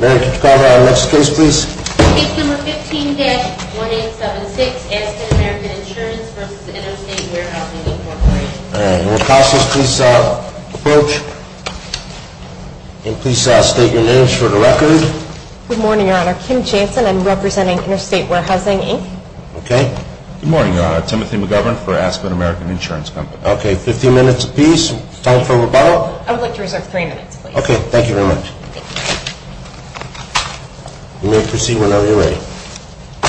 Mayor, could you call to order the next case, please? Case number 15-1876, Aspen American Insurance v. Interstate Warehousing, Inc. All right. Mayor Casas, please approach. And please state your names for the record. Good morning, Your Honor. Kim Jansen. I'm representing Interstate Warehousing, Inc. Okay. Good morning, Your Honor. Timothy McGovern for Aspen American Insurance Company. Okay. Fifteen minutes apiece. Time for rebuttal. I would like to reserve three minutes, please. Okay. Thank you very much. Thank you. You may proceed whenever you're ready.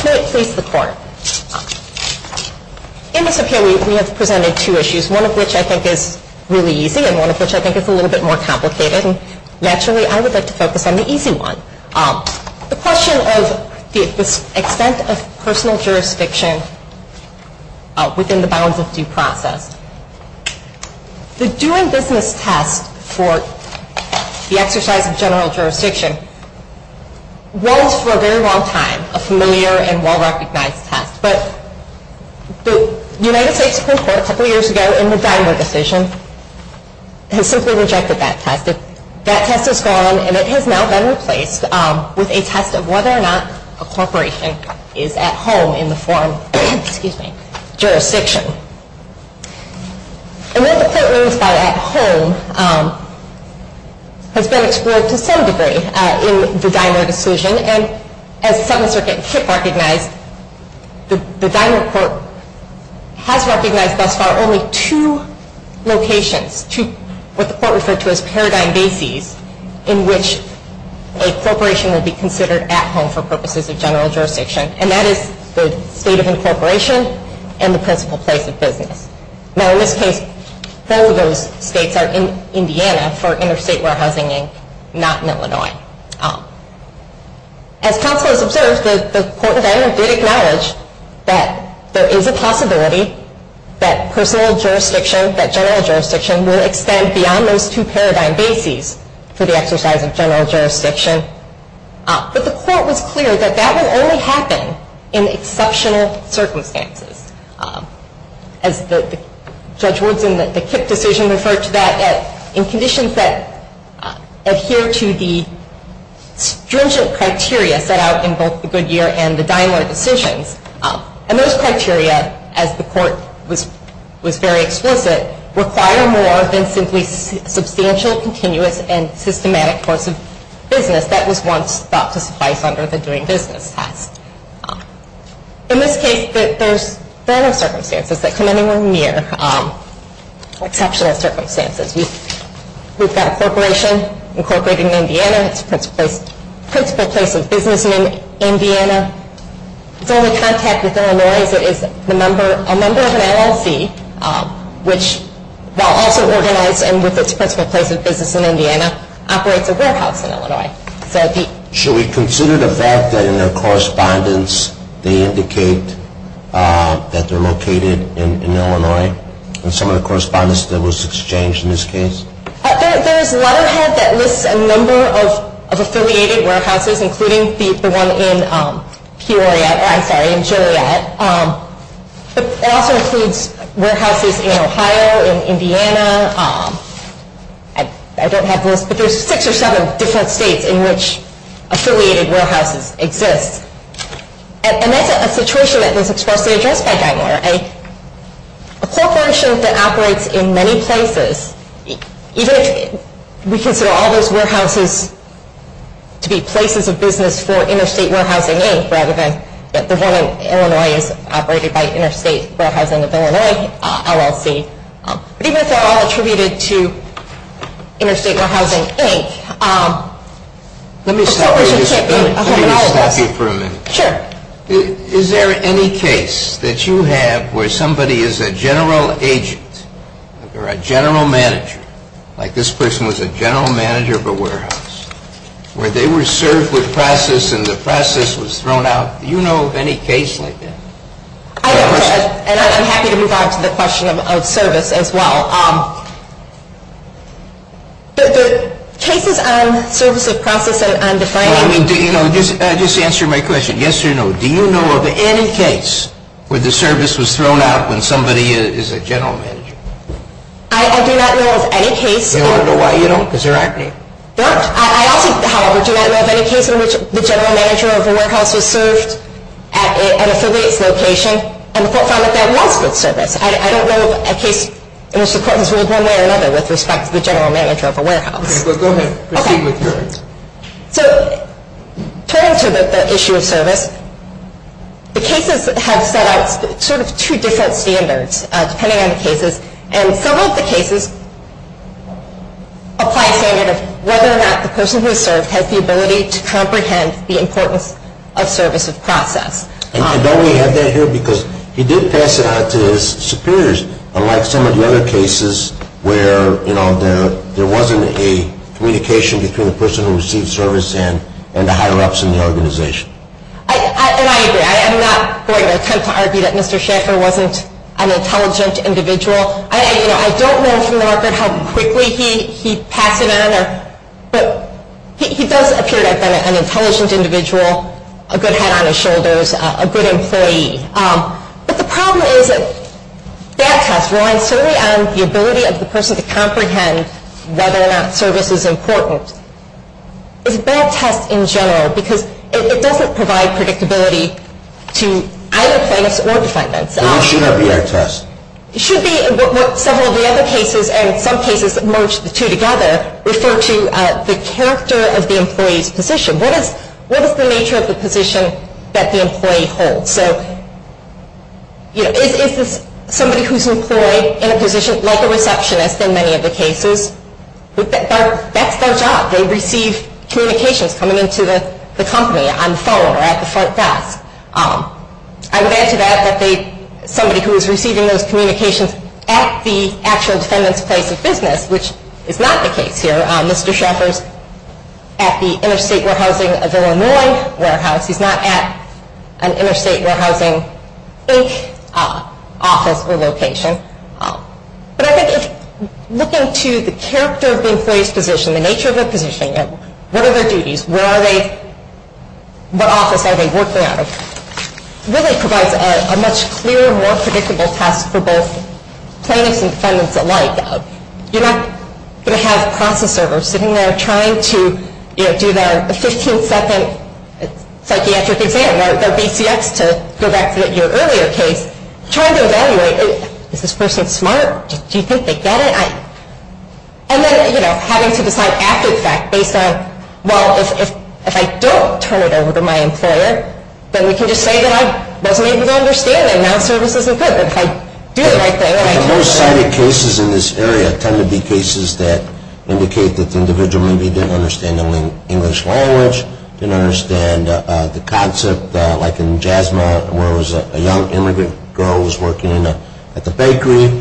Mayor, please, the court. In this appeal, we have presented two issues, one of which I think is really easy and one of which I think is a little bit more complicated. And naturally, I would like to focus on the easy one. The question of the extent of personal jurisdiction within the bounds of due process. The doing business test for the exercise of general jurisdiction was for a very long time a familiar and well-recognized test. But the United States Supreme Court, a couple of years ago, in the Dinah decision, has simply rejected that test. That test is gone, and it has now been replaced with a test of whether or not a corporation is at home in the form of jurisdiction. And what the court means by at home has been explored to some degree in the Dinah decision. And as Seventh Circuit KIPP recognized, the Dinah court has recognized thus far only two locations, what the court referred to as paradigm bases, in which a corporation would be considered at home for purposes of general jurisdiction. And that is the state of incorporation and the principal place of business. Now in this case, all of those states are in Indiana for interstate warehousing, not in Illinois. As counsel has observed, the court in Dinah did acknowledge that there is a possibility that personal jurisdiction, that general jurisdiction, will extend beyond those two paradigm bases for the exercise of general jurisdiction. But the court was clear that that would only happen in exceptional circumstances. As Judge Woodson, the KIPP decision, referred to that in conditions that adhere to the stringent criteria set out in both the Goodyear and the Dinah decisions. And those criteria, as the court was very explicit, require more than simply substantial, continuous, and systematic course of business that was once thought to suffice under the doing business test. In this case, there are no circumstances that come anywhere near exceptional circumstances. We've got a corporation incorporated in Indiana. It's the principal place of business in Indiana. It's only contacted with Illinois as it is a member of an LLC, which, while also organized and with its principal place of business in Indiana, operates a warehouse in Illinois. Should we consider the fact that in their correspondence they indicate that they're located in Illinois? In some of the correspondence that was exchanged in this case? There's a letterhead that lists a number of affiliated warehouses, including the one in Peoria, I'm sorry, in Joliet. It also includes warehouses in Ohio, in Indiana. I don't have the list, but there's six or seven different states in which affiliated warehouses exist. And that's a situation that was expressly addressed by Gingler. A corporation that operates in many places, even if we consider all those warehouses to be places of business for interstate warehousing, rather than that the one in Illinois is operated by Interstate Warehousing of Illinois, LLC. But even if they're all attributed to Interstate Warehousing, Inc. Let me stop you for a minute. Sure. Is there any case that you have where somebody is a general agent or a general manager, like this person was a general manager of a warehouse, where they were served with process and the process was thrown out? Do you know of any case like that? I don't. And I'm happy to move on to the question of service as well. The cases on service of process and on defining. Just answer my question, yes or no. Do you know of any case where the service was thrown out when somebody is a general manager? I do not know of any case. Do you want to know why you don't? Because there aren't any. There aren't. I also, however, do not know of any case in which the general manager of a warehouse was served at an affiliate's location and the court found that that was good service. I don't know of a case in which the court has ruled one way or another with respect to the general manager of a warehouse. Okay. Go ahead. Proceed with your. Okay. So, turning to the issue of service, the cases have set out sort of two different standards, depending on the cases. And some of the cases apply a standard of whether or not the person who is served has the ability to comprehend the importance of service of process. And don't we have that here because he did pass it on to his superiors, unlike some of the other cases where, you know, there wasn't a communication between the person who received service and the higher-ups in the organization. And I agree. I am not going to attempt to argue that Mr. Schaeffer wasn't an intelligent individual. You know, I don't know from the record how quickly he passed it on, but he does appear like an intelligent individual, a good head on his shoulders, a good employee. But the problem is that that test relies solely on the ability of the person to comprehend whether or not service is important. It's a bad test in general because it doesn't provide predictability to either plaintiffs or defendants. It should not be a test. It should be what several of the other cases, and in some cases merge the two together, refer to the character of the employee's position. What is the nature of the position that the employee holds? So, you know, is this somebody who is employed in a position like a receptionist in many of the cases? That's their job. They receive communications coming into the company on the phone or at the front desk. I would add to that that somebody who is receiving those communications at the actual defendant's place of business, which is not the case here. Mr. Schaeffer is at the Interstate Warehousing of Illinois warehouse. He's not at an Interstate Warehousing, Inc. office or location. But I think looking to the character of the employee's position, the nature of their position, what are their duties, what office are they working out of, really provides a much clearer, more predictable test for both plaintiffs and defendants alike. You're not going to have a process server sitting there trying to do their 15-second psychiatric exam, or their BCX to go back to your earlier case, trying to evaluate, is this person smart? Do you think they get it? And then, you know, having to decide after the fact based on, well, if I don't turn it over to my employer, then we can just say that I wasn't able to understand them. Now the service isn't good. But if I do the right thing and I turn it over. Most cited cases in this area tend to be cases that indicate that the individual maybe didn't understand the English language, didn't understand the concept, like in Jasmine, where it was a young immigrant girl who was working at the bakery.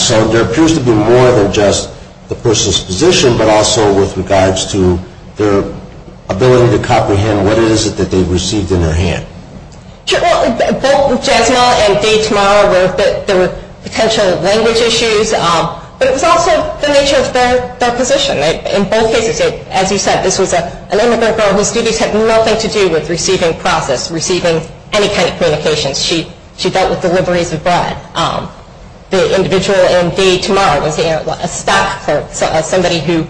So there appears to be more than just the person's position, but also with regards to their ability to comprehend what it is that they received in their hand. Sure. Well, both Jasmine and Daytomorrow, there were potential language issues. But it was also the nature of their position. In both cases, as you said, this was an immigrant girl whose duties had nothing to do with receiving process, receiving any kind of communications. She dealt with deliveries of bread. The individual in Daytomorrow was a stock clerk, somebody who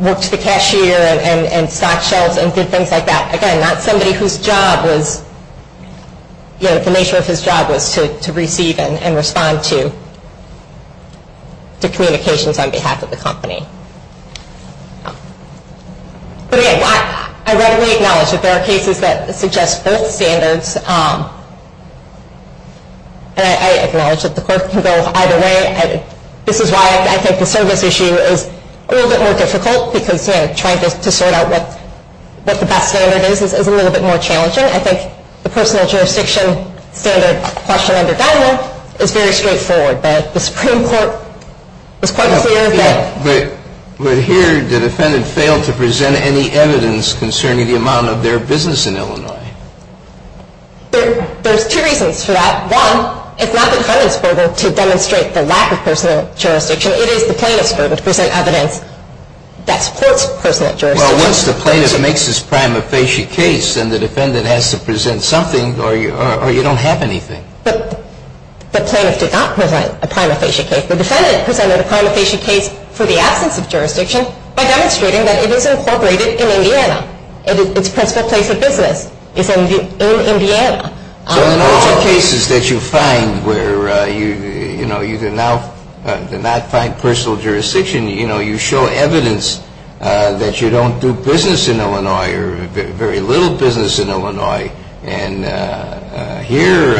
worked the cashier and stock shelves and did things like that. Again, not somebody whose job was, you know, the nature of his job was to receive and respond to communications on behalf of the company. But again, I readily acknowledge that there are cases that suggest both standards. And I acknowledge that the court can go either way. This is why I think the service issue is a little bit more difficult, because, you know, trying to sort out what the best standard is is a little bit more challenging. I think the personal jurisdiction standard question under Daniel is very straightforward. But the Supreme Court was quite clear that- But here, the defendant failed to present any evidence concerning the amount of their business in Illinois. There's two reasons for that. One, it's not the defendant's burden to demonstrate the lack of personal jurisdiction. It is the plaintiff's burden to present evidence that supports personal jurisdiction. Well, once the plaintiff makes his prima facie case, then the defendant has to present something or you don't have anything. But the plaintiff did not present a prima facie case. The defendant presented a prima facie case for the absence of jurisdiction by demonstrating that it is incorporated in Indiana. Its principal place of business is in Indiana. So in all the cases that you find where, you know, you did not find personal jurisdiction, you know, you show evidence that you don't do business in Illinois or very little business in Illinois. And here,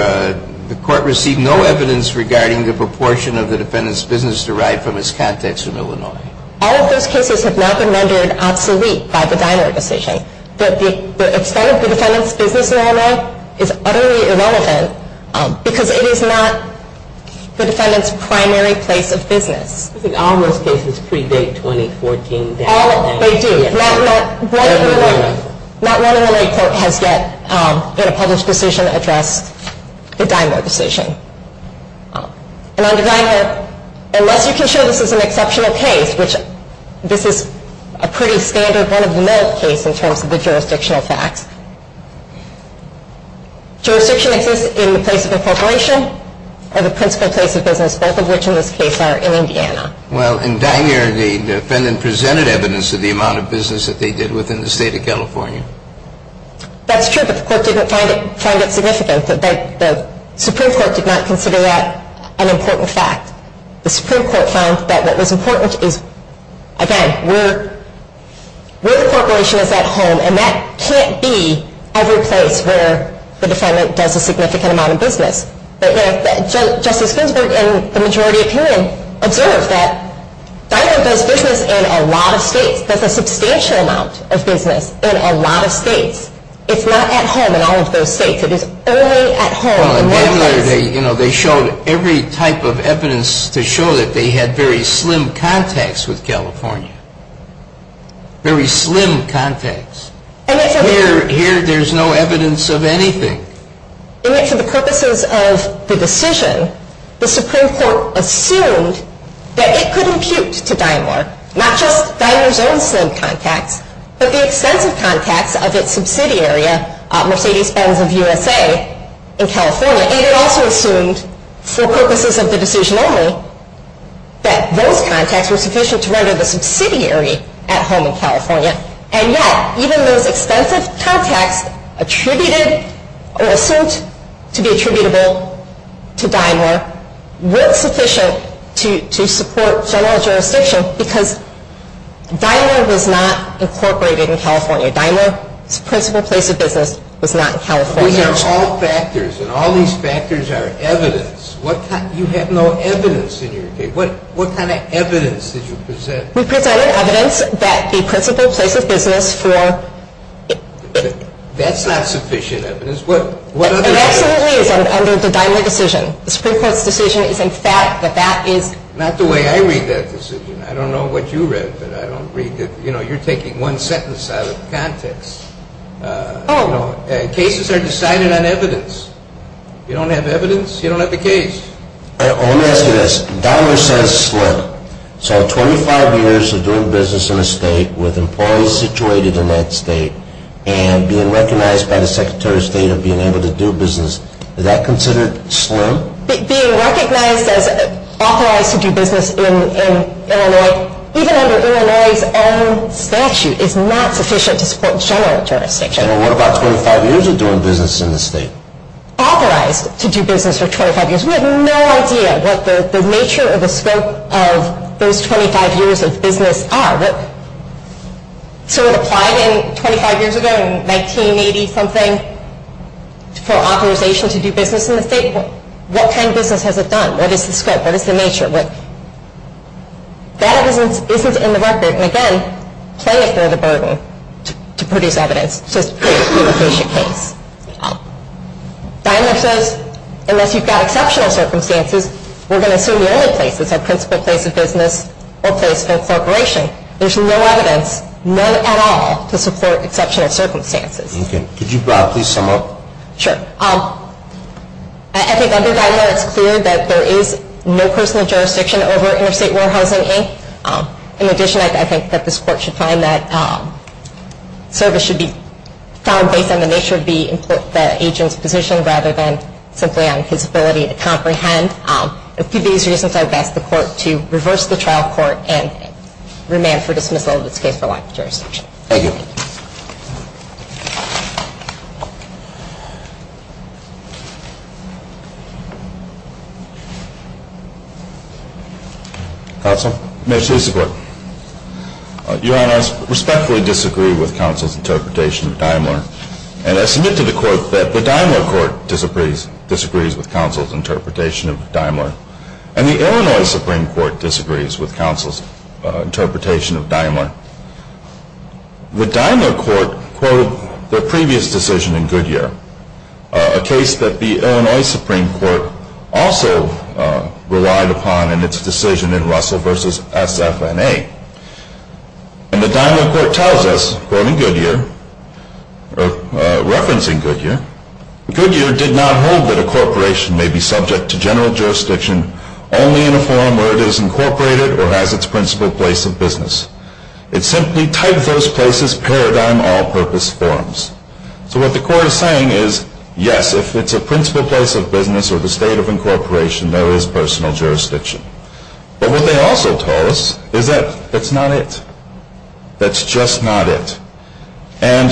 the court received no evidence regarding the proportion of the defendant's business derived from his contacts in Illinois. All of those cases have now been rendered obsolete by the Diner decision. The extent of the defendant's business in Illinois is utterly irrelevant because it is not the defendant's primary place of business. I think all those cases predate 2014 Diner. They do. Not one Illinois court has yet in a published decision addressed the Diner decision. And on the Diner, unless you can show this is an exceptional case, which this is a pretty standard one-of-a-kind case in terms of the jurisdictional facts. Jurisdiction exists in the place of incorporation or the principal place of business, both of which in this case are in Indiana. Well, in Diner, the defendant presented evidence of the amount of business that they did within the state of California. That's true, but the court didn't find it significant. The Supreme Court did not consider that an important fact. The Supreme Court found that what was important is, again, where the corporation is at home, and that can't be every place where the defendant does a significant amount of business. Justice Ginsburg, in the majority opinion, observed that Diner does business in a lot of states, does a substantial amount of business in a lot of states. It's not at home in all of those states. It is only at home in one place. They showed every type of evidence to show that they had very slim contacts with California. Very slim contacts. Here, there's no evidence of anything. For the purposes of the decision, the Supreme Court assumed that it could impute to Diner, not just Diner's own slim contacts, but the extensive contacts of its subsidiary, Mercedes-Benz of USA, in California. And it also assumed, for purposes of the decision only, that those contacts were sufficient to render the subsidiary at home in California. And yet, even those extensive contacts attributed or assumed to be attributable to Diner weren't sufficient to support general jurisdiction because Diner was not incorporated in California. Diner's principal place of business was not California. But these are all factors, and all these factors are evidence. You have no evidence in your case. What kind of evidence did you present? We presented evidence that the principal place of business for... That's not sufficient evidence. It absolutely is under the Diner decision. The Supreme Court's decision is, in fact, that that is... Not the way I read that decision. I don't know what you read, but I don't read the... You're taking one sentence out of context. Cases are decided on evidence. You don't have evidence, you don't have the case. Let me ask you this. Diner says slim. So 25 years of doing business in a state with employees situated in that state and being recognized by the Secretary of State of being able to do business, is that considered slim? Being recognized as authorized to do business in Illinois, even under Illinois' own statute, is not sufficient to support general jurisdiction. What about 25 years of doing business in the state? Authorized to do business for 25 years. We have no idea what the nature or the scope of those 25 years of business are. So it applied 25 years ago in 1980-something for authorization to do business in the state? What kind of business has it done? What is the scope? What is the nature? That isn't in the record. And, again, play it for the burden to produce evidence. It's just a patient case. Diner says unless you've got exceptional circumstances, we're going to assume the only places are principal place of business or place of corporation. There's no evidence, none at all, to support exceptional circumstances. Could you please sum up? Sure. I think under that, it's clear that there is no personal jurisdiction over interstate warehousing. In addition, I think that this court should find that service should be found based on the nature of the agent's position rather than simply on his ability to comprehend. For these reasons, I would ask the court to reverse the trial court and remand for dismissal of this case for lack of jurisdiction. Thank you. Counsel? May I speak to the court? Your Honor, I respectfully disagree with counsel's interpretation of Daimler. And I submit to the court that the Daimler court disagrees with counsel's interpretation of Daimler and the Illinois Supreme Court disagrees with counsel's interpretation of Daimler. The Daimler court quoted their previous decision in Goodyear, a case that the Illinois Supreme Court also relied upon in its decision in Russell v. SFNA. And the Daimler court tells us, quoting Goodyear, referencing Goodyear, Goodyear did not hold that a corporation may be subject to general jurisdiction only in a forum where it is incorporated or has its principal place of business. It simply typed those places paradigm all-purpose forums. So what the court is saying is, yes, if it's a principal place of business or the state of incorporation, there is personal jurisdiction. But what they also tell us is that that's not it. That's just not it. And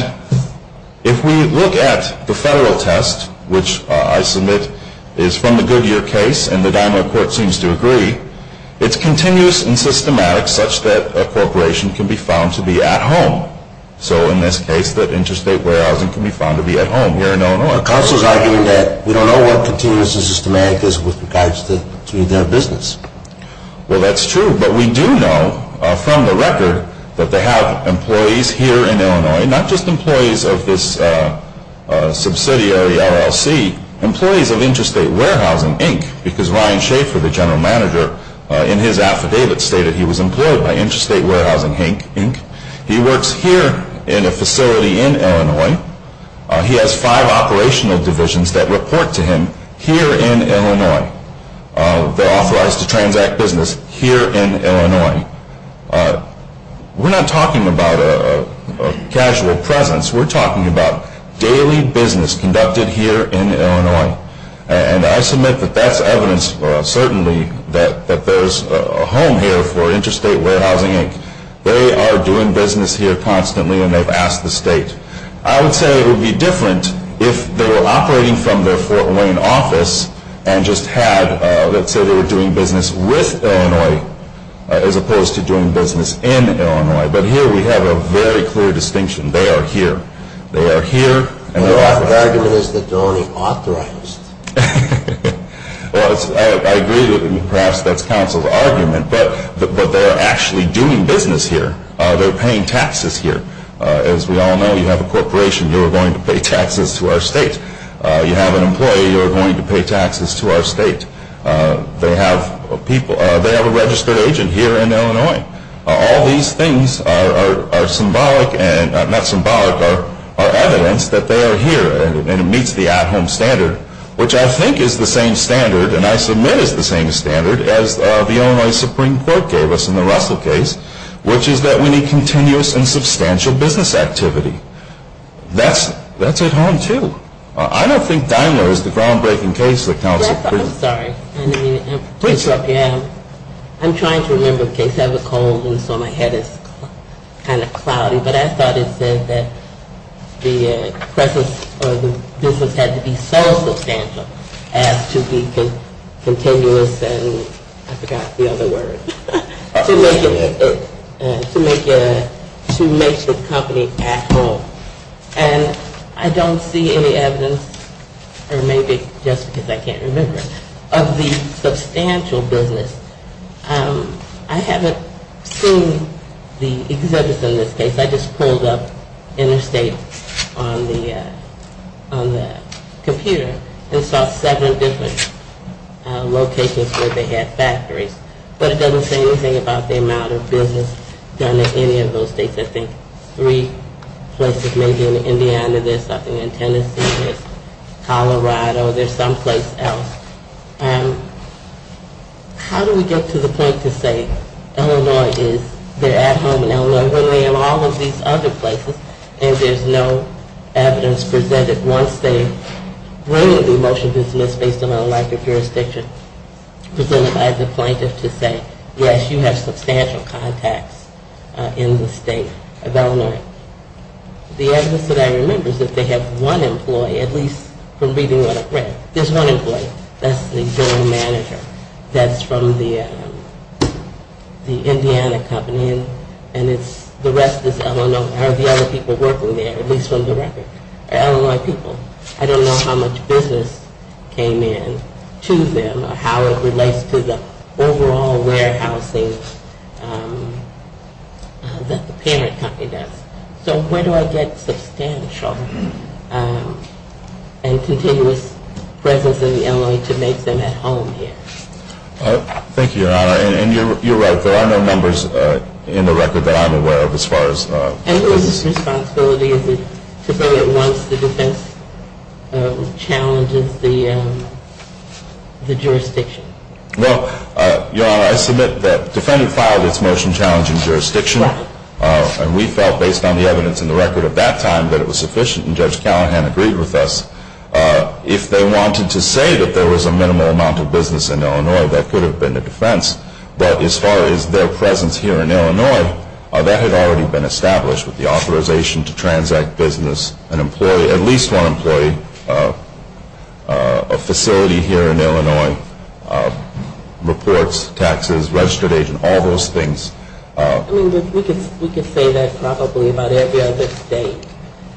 if we look at the federal test, which I submit is from the Goodyear case and the Daimler court seems to agree, it's continuous and systematic such that a corporation can be found to be at home. So in this case, that interstate warehousing can be found to be at home here in Illinois. The counsel is arguing that we don't know what continuous and systematic is with regards to their business. Well, that's true. But we do know from the record that they have employees here in Illinois, not just employees of this subsidiary LLC, employees of Interstate Warehousing, Inc. because Ryan Schaefer, the general manager, in his affidavit stated he was employed by Interstate Warehousing, Inc. He works here in a facility in Illinois. He has five operational divisions that report to him here in Illinois. They're authorized to transact business here in Illinois. We're not talking about a casual presence. We're talking about daily business conducted here in Illinois. And I submit that that's evidence certainly that there's a home here for Interstate Warehousing, Inc. They are doing business here constantly, and they've asked the state. I would say it would be different if they were operating from their Fort Wayne office and just had, let's say they were doing business with Illinois as opposed to doing business in Illinois. But here we have a very clear distinction. They are here. Your argument is that they're only authorized. Well, I agree that perhaps that's counsel's argument. But they're actually doing business here. They're paying taxes here. As we all know, you have a corporation. You are going to pay taxes to our state. You have an employee. You are going to pay taxes to our state. They have a registered agent here in Illinois. All these things are evidence that they are here, and it meets the at-home standard, which I think is the same standard, and I submit is the same standard as the Illinois Supreme Court gave us in the Russell case, which is that we need continuous and substantial business activity. That's at home, too. I don't think Daimler is the groundbreaking case that counsel created. I'm sorry. Please. I'm trying to remember the case. I have a cold, and so my head is kind of cloudy. But I thought it said that the presence or the business had to be so substantial as to be continuous and I forgot the other word, to make the company at home. And I don't see any evidence, or maybe just because I can't remember, of the substantial business. I haven't seen the exhibits in this case. I just pulled up interstate on the computer and saw seven different locations where they had factories. But it doesn't say anything about the amount of business done in any of those states. I think three places, maybe in Indiana there's something, in Tennessee there's Colorado, there's someplace else. How do we get to the point to say Illinois is, they're at home in Illinois when they're in all of these other places and there's no evidence presented once they bring the motion to dismiss based on a lack of jurisdiction presented by the plaintiff to say, yes, you have substantial contacts in the state of Illinois. The evidence that I remember is that they have one employee, at least from reading what I've read. There's one employee. That's the general manager. That's from the Indiana company and the rest are the other people working there, at least from the record. They're Illinois people. I don't know how much business came in to them or how it relates to the overall warehousing that the parent company does. So where do I get substantial and continuous presence in Illinois to make them at home here? Thank you, Your Honor. And you're right. There are no numbers in the record that I'm aware of as far as business. And whose responsibility is it to bring it once the defense challenges the jurisdiction? Well, Your Honor, I submit that the defendant filed its motion challenging jurisdiction. And we felt, based on the evidence in the record at that time, that it was sufficient. And Judge Callahan agreed with us. If they wanted to say that there was a minimal amount of business in Illinois, that could have been the defense. But as far as their presence here in Illinois, that had already been established with the authorization to transact business. An employee, at least one employee, a facility here in Illinois, reports, taxes, registered agent, all those things. I mean, we could say that probably about every other state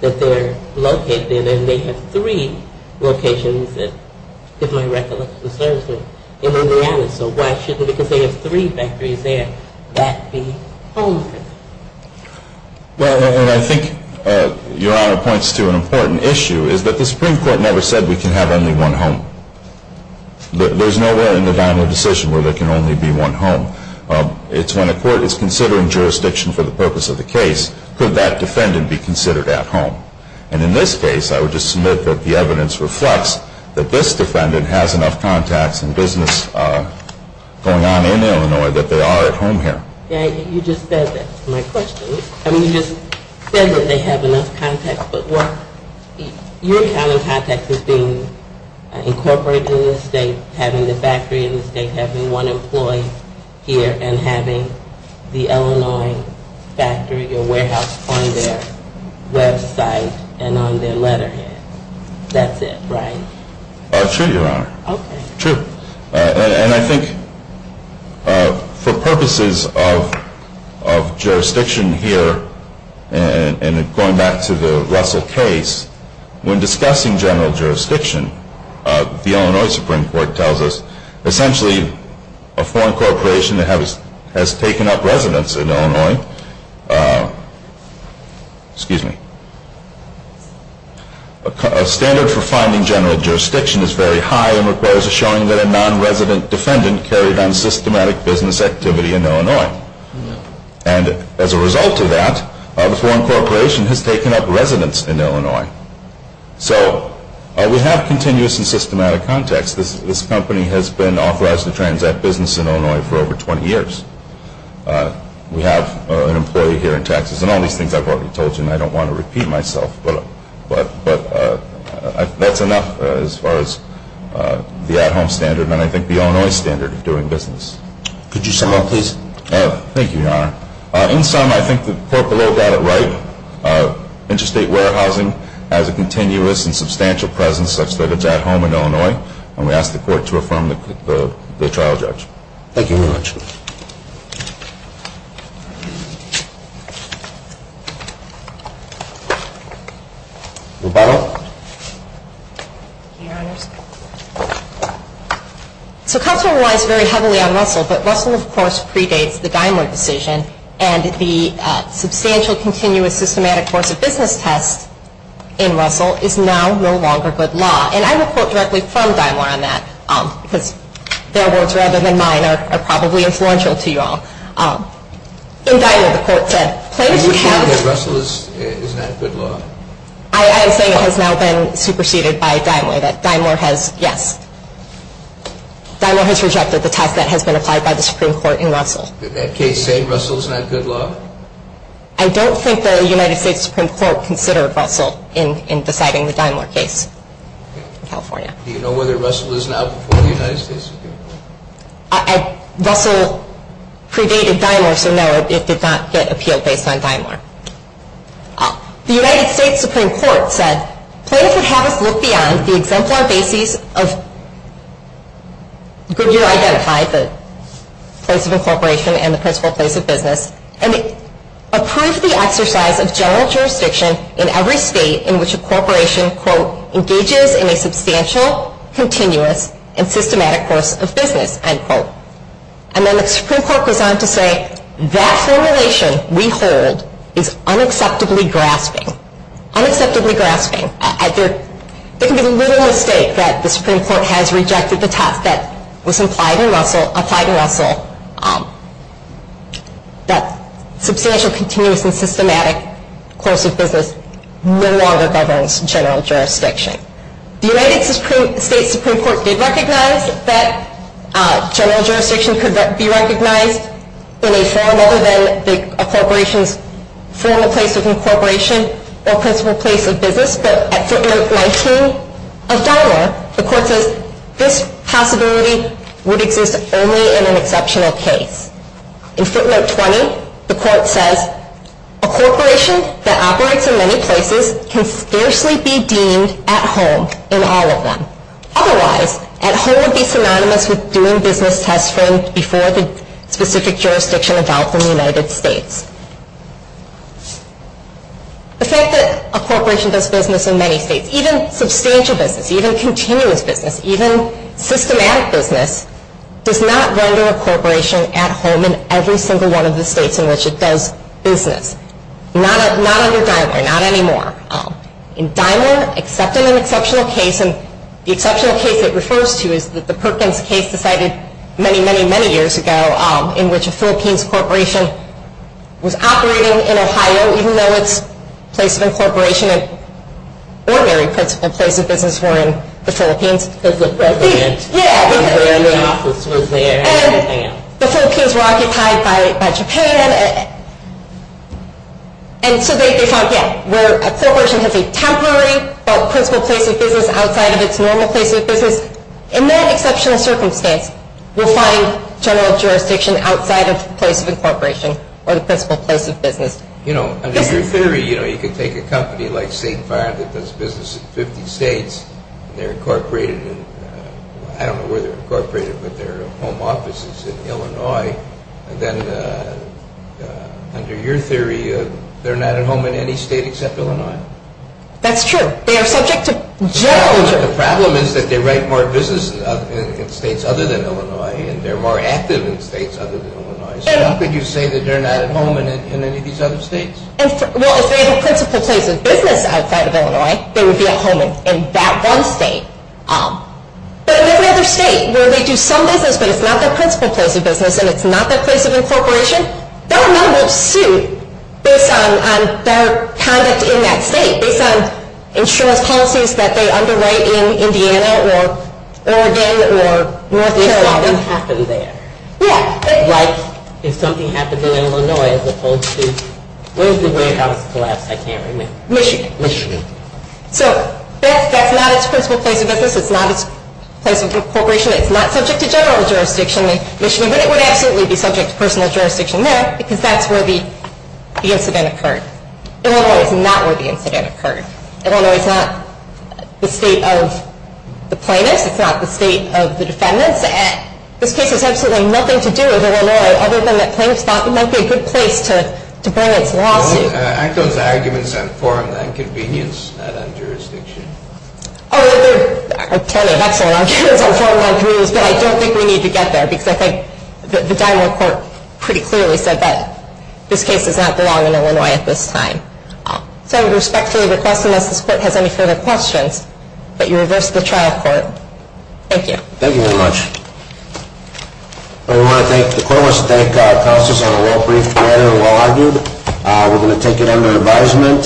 that they're located in. And they have three locations, if my recollection serves me, in Indiana. So why shouldn't it, because they have three factories there, that be home to them? Well, and I think, Your Honor, points to an important issue, is that the Supreme Court never said we can have only one home. There's nowhere in the Dino decision where there can only be one home. It's when a court is considering jurisdiction for the purpose of the case, could that defendant be considered at home? And in this case, I would just submit that the evidence reflects that this defendant has enough contacts and business going on in Illinois that they are at home here. Yeah, you just said that. That's my question. I mean, you just said that they have enough contacts. But what you're counting contacts as being incorporated in the state, having the factory in the state, having one employee here, and having the Illinois factory or warehouse on their website and on their letterhead. That's it, right? Sure, Your Honor. Okay. When discussing general jurisdiction, the Illinois Supreme Court tells us essentially a foreign corporation has taken up residence in Illinois. Excuse me. A standard for finding general jurisdiction is very high and requires a showing that a non-resident defendant carried on systematic business activity in Illinois. And as a result of that, the foreign corporation has taken up residence in Illinois. So we have continuous and systematic contacts. This company has been authorized to transact business in Illinois for over 20 years. We have an employee here in Texas and all these things I've already told you and I don't want to repeat myself. But that's enough as far as the at-home standard and I think the Illinois standard of doing business. Could you sum up, please? Thank you, Your Honor. In sum, I think the court below got it right. Interstate warehousing has a continuous and substantial presence such that it's at home in Illinois. And we ask the court to affirm the trial judge. Thank you very much. Rebuttal? Thank you, Your Honors. So counsel relies very heavily on Russell. But Russell, of course, predates the Daimler decision. And the substantial continuous systematic force of business test in Russell is now no longer good law. And I will quote directly from Daimler on that because their words rather than mine are probably influential to you all. In Daimler, the court said, Are you saying that Russell is not good law? I am saying it has now been superseded by Daimler, that Daimler has, yes. Daimler has rejected the test that has been applied by the Supreme Court in Russell. Did that case say Russell is not good law? I don't think the United States Supreme Court considered Russell in deciding the Daimler case in California. Do you know whether Russell is now before the United States Supreme Court? Russell predated Daimler, so no, it did not get appealed based on Daimler. The United States Supreme Court said, Please have us look beyond the exemplar basis of, you identified the place of incorporation and the principal place of business, and approve the exercise of general jurisdiction in every state in which a corporation, quote, engages in a substantial, continuous, and systematic force of business, end quote. And then the Supreme Court goes on to say, That formulation we hold is unacceptably grasping. Unacceptably grasping. There can be little mistake that the Supreme Court has rejected the test that was applied in Russell, that substantial, continuous, and systematic force of business no longer governs general jurisdiction. The United States Supreme Court did recognize that general jurisdiction could be recognized in a form other than a corporation's formal place of incorporation or principal place of business, but at footnote 19 of Daimler, the court says, This possibility would exist only in an exceptional case. In footnote 20, the court says, A corporation that operates in many places can scarcely be deemed at home in all of them. Otherwise, at home would be synonymous with doing business test-framed before the specific jurisdiction evolved in the United States. The fact that a corporation does business in many states, even substantial business, even continuous business, even systematic business, does not render a corporation at home in every single one of the states in which it does business. Not under Daimler, not anymore. In Daimler, except in an exceptional case, and the exceptional case it refers to is the Perkins case decided many, many, many years ago, in which a Philippines corporation was operating in Ohio, even though its place of incorporation and ordinary place of business were in the Philippines. Because the president's office was there and everything else. And the Philippines were occupied by Japan. And so they thought, yeah, where a corporation has a temporary but principal place of business outside of its normal place of business, in that exceptional circumstance, we'll find general jurisdiction outside of the place of incorporation or the principal place of business. You know, under your theory, you know, you could take a company like State Fire that does business in 50 states, and they're incorporated in, I don't know where they're incorporated, but their home office is in Illinois. And then under your theory, they're not at home in any state except Illinois. That's true. They are subject to general jurisdiction. The problem is that they write more business in states other than Illinois, and they're more active in states other than Illinois. So how could you say that they're not at home in any of these other states? Well, if they have a principal place of business outside of Illinois, they would be at home in that one state. But in every other state where they do some business, but it's not their principal place of business and it's not their place of incorporation, their number will suit based on their conduct in that state, based on insurance policies that they underwrite in Indiana or Oregon or North Carolina. If something happened there. Yeah. Like if something happened in Illinois as opposed to, where's the warehouse collapse? I can't remember. Michigan. Michigan. So that's not its principal place of business. It's not its place of incorporation. It's not subject to general jurisdiction in Michigan, but it would absolutely be subject to personal jurisdiction there because that's where the incident occurred. Illinois is not where the incident occurred. Illinois is not the state of the plaintiffs. It's not the state of the defendants. This case has absolutely nothing to do with Illinois other than that plaintiffs thought it might be a good place to bring its lawsuit. Aren't those arguments on form and convenience, not on jurisdiction? Oh, they're a ton of excellent arguments on form and on convenience, but I don't think we need to get there because I think the Dymore court pretty clearly said that this case does not belong in Illinois at this time. So I respectfully request unless this court has any further questions that you reverse the trial court. Thank you. Thank you very much. The court wants to thank counsels on a well-briefed manner and well-argued. We're going to take it under advisement.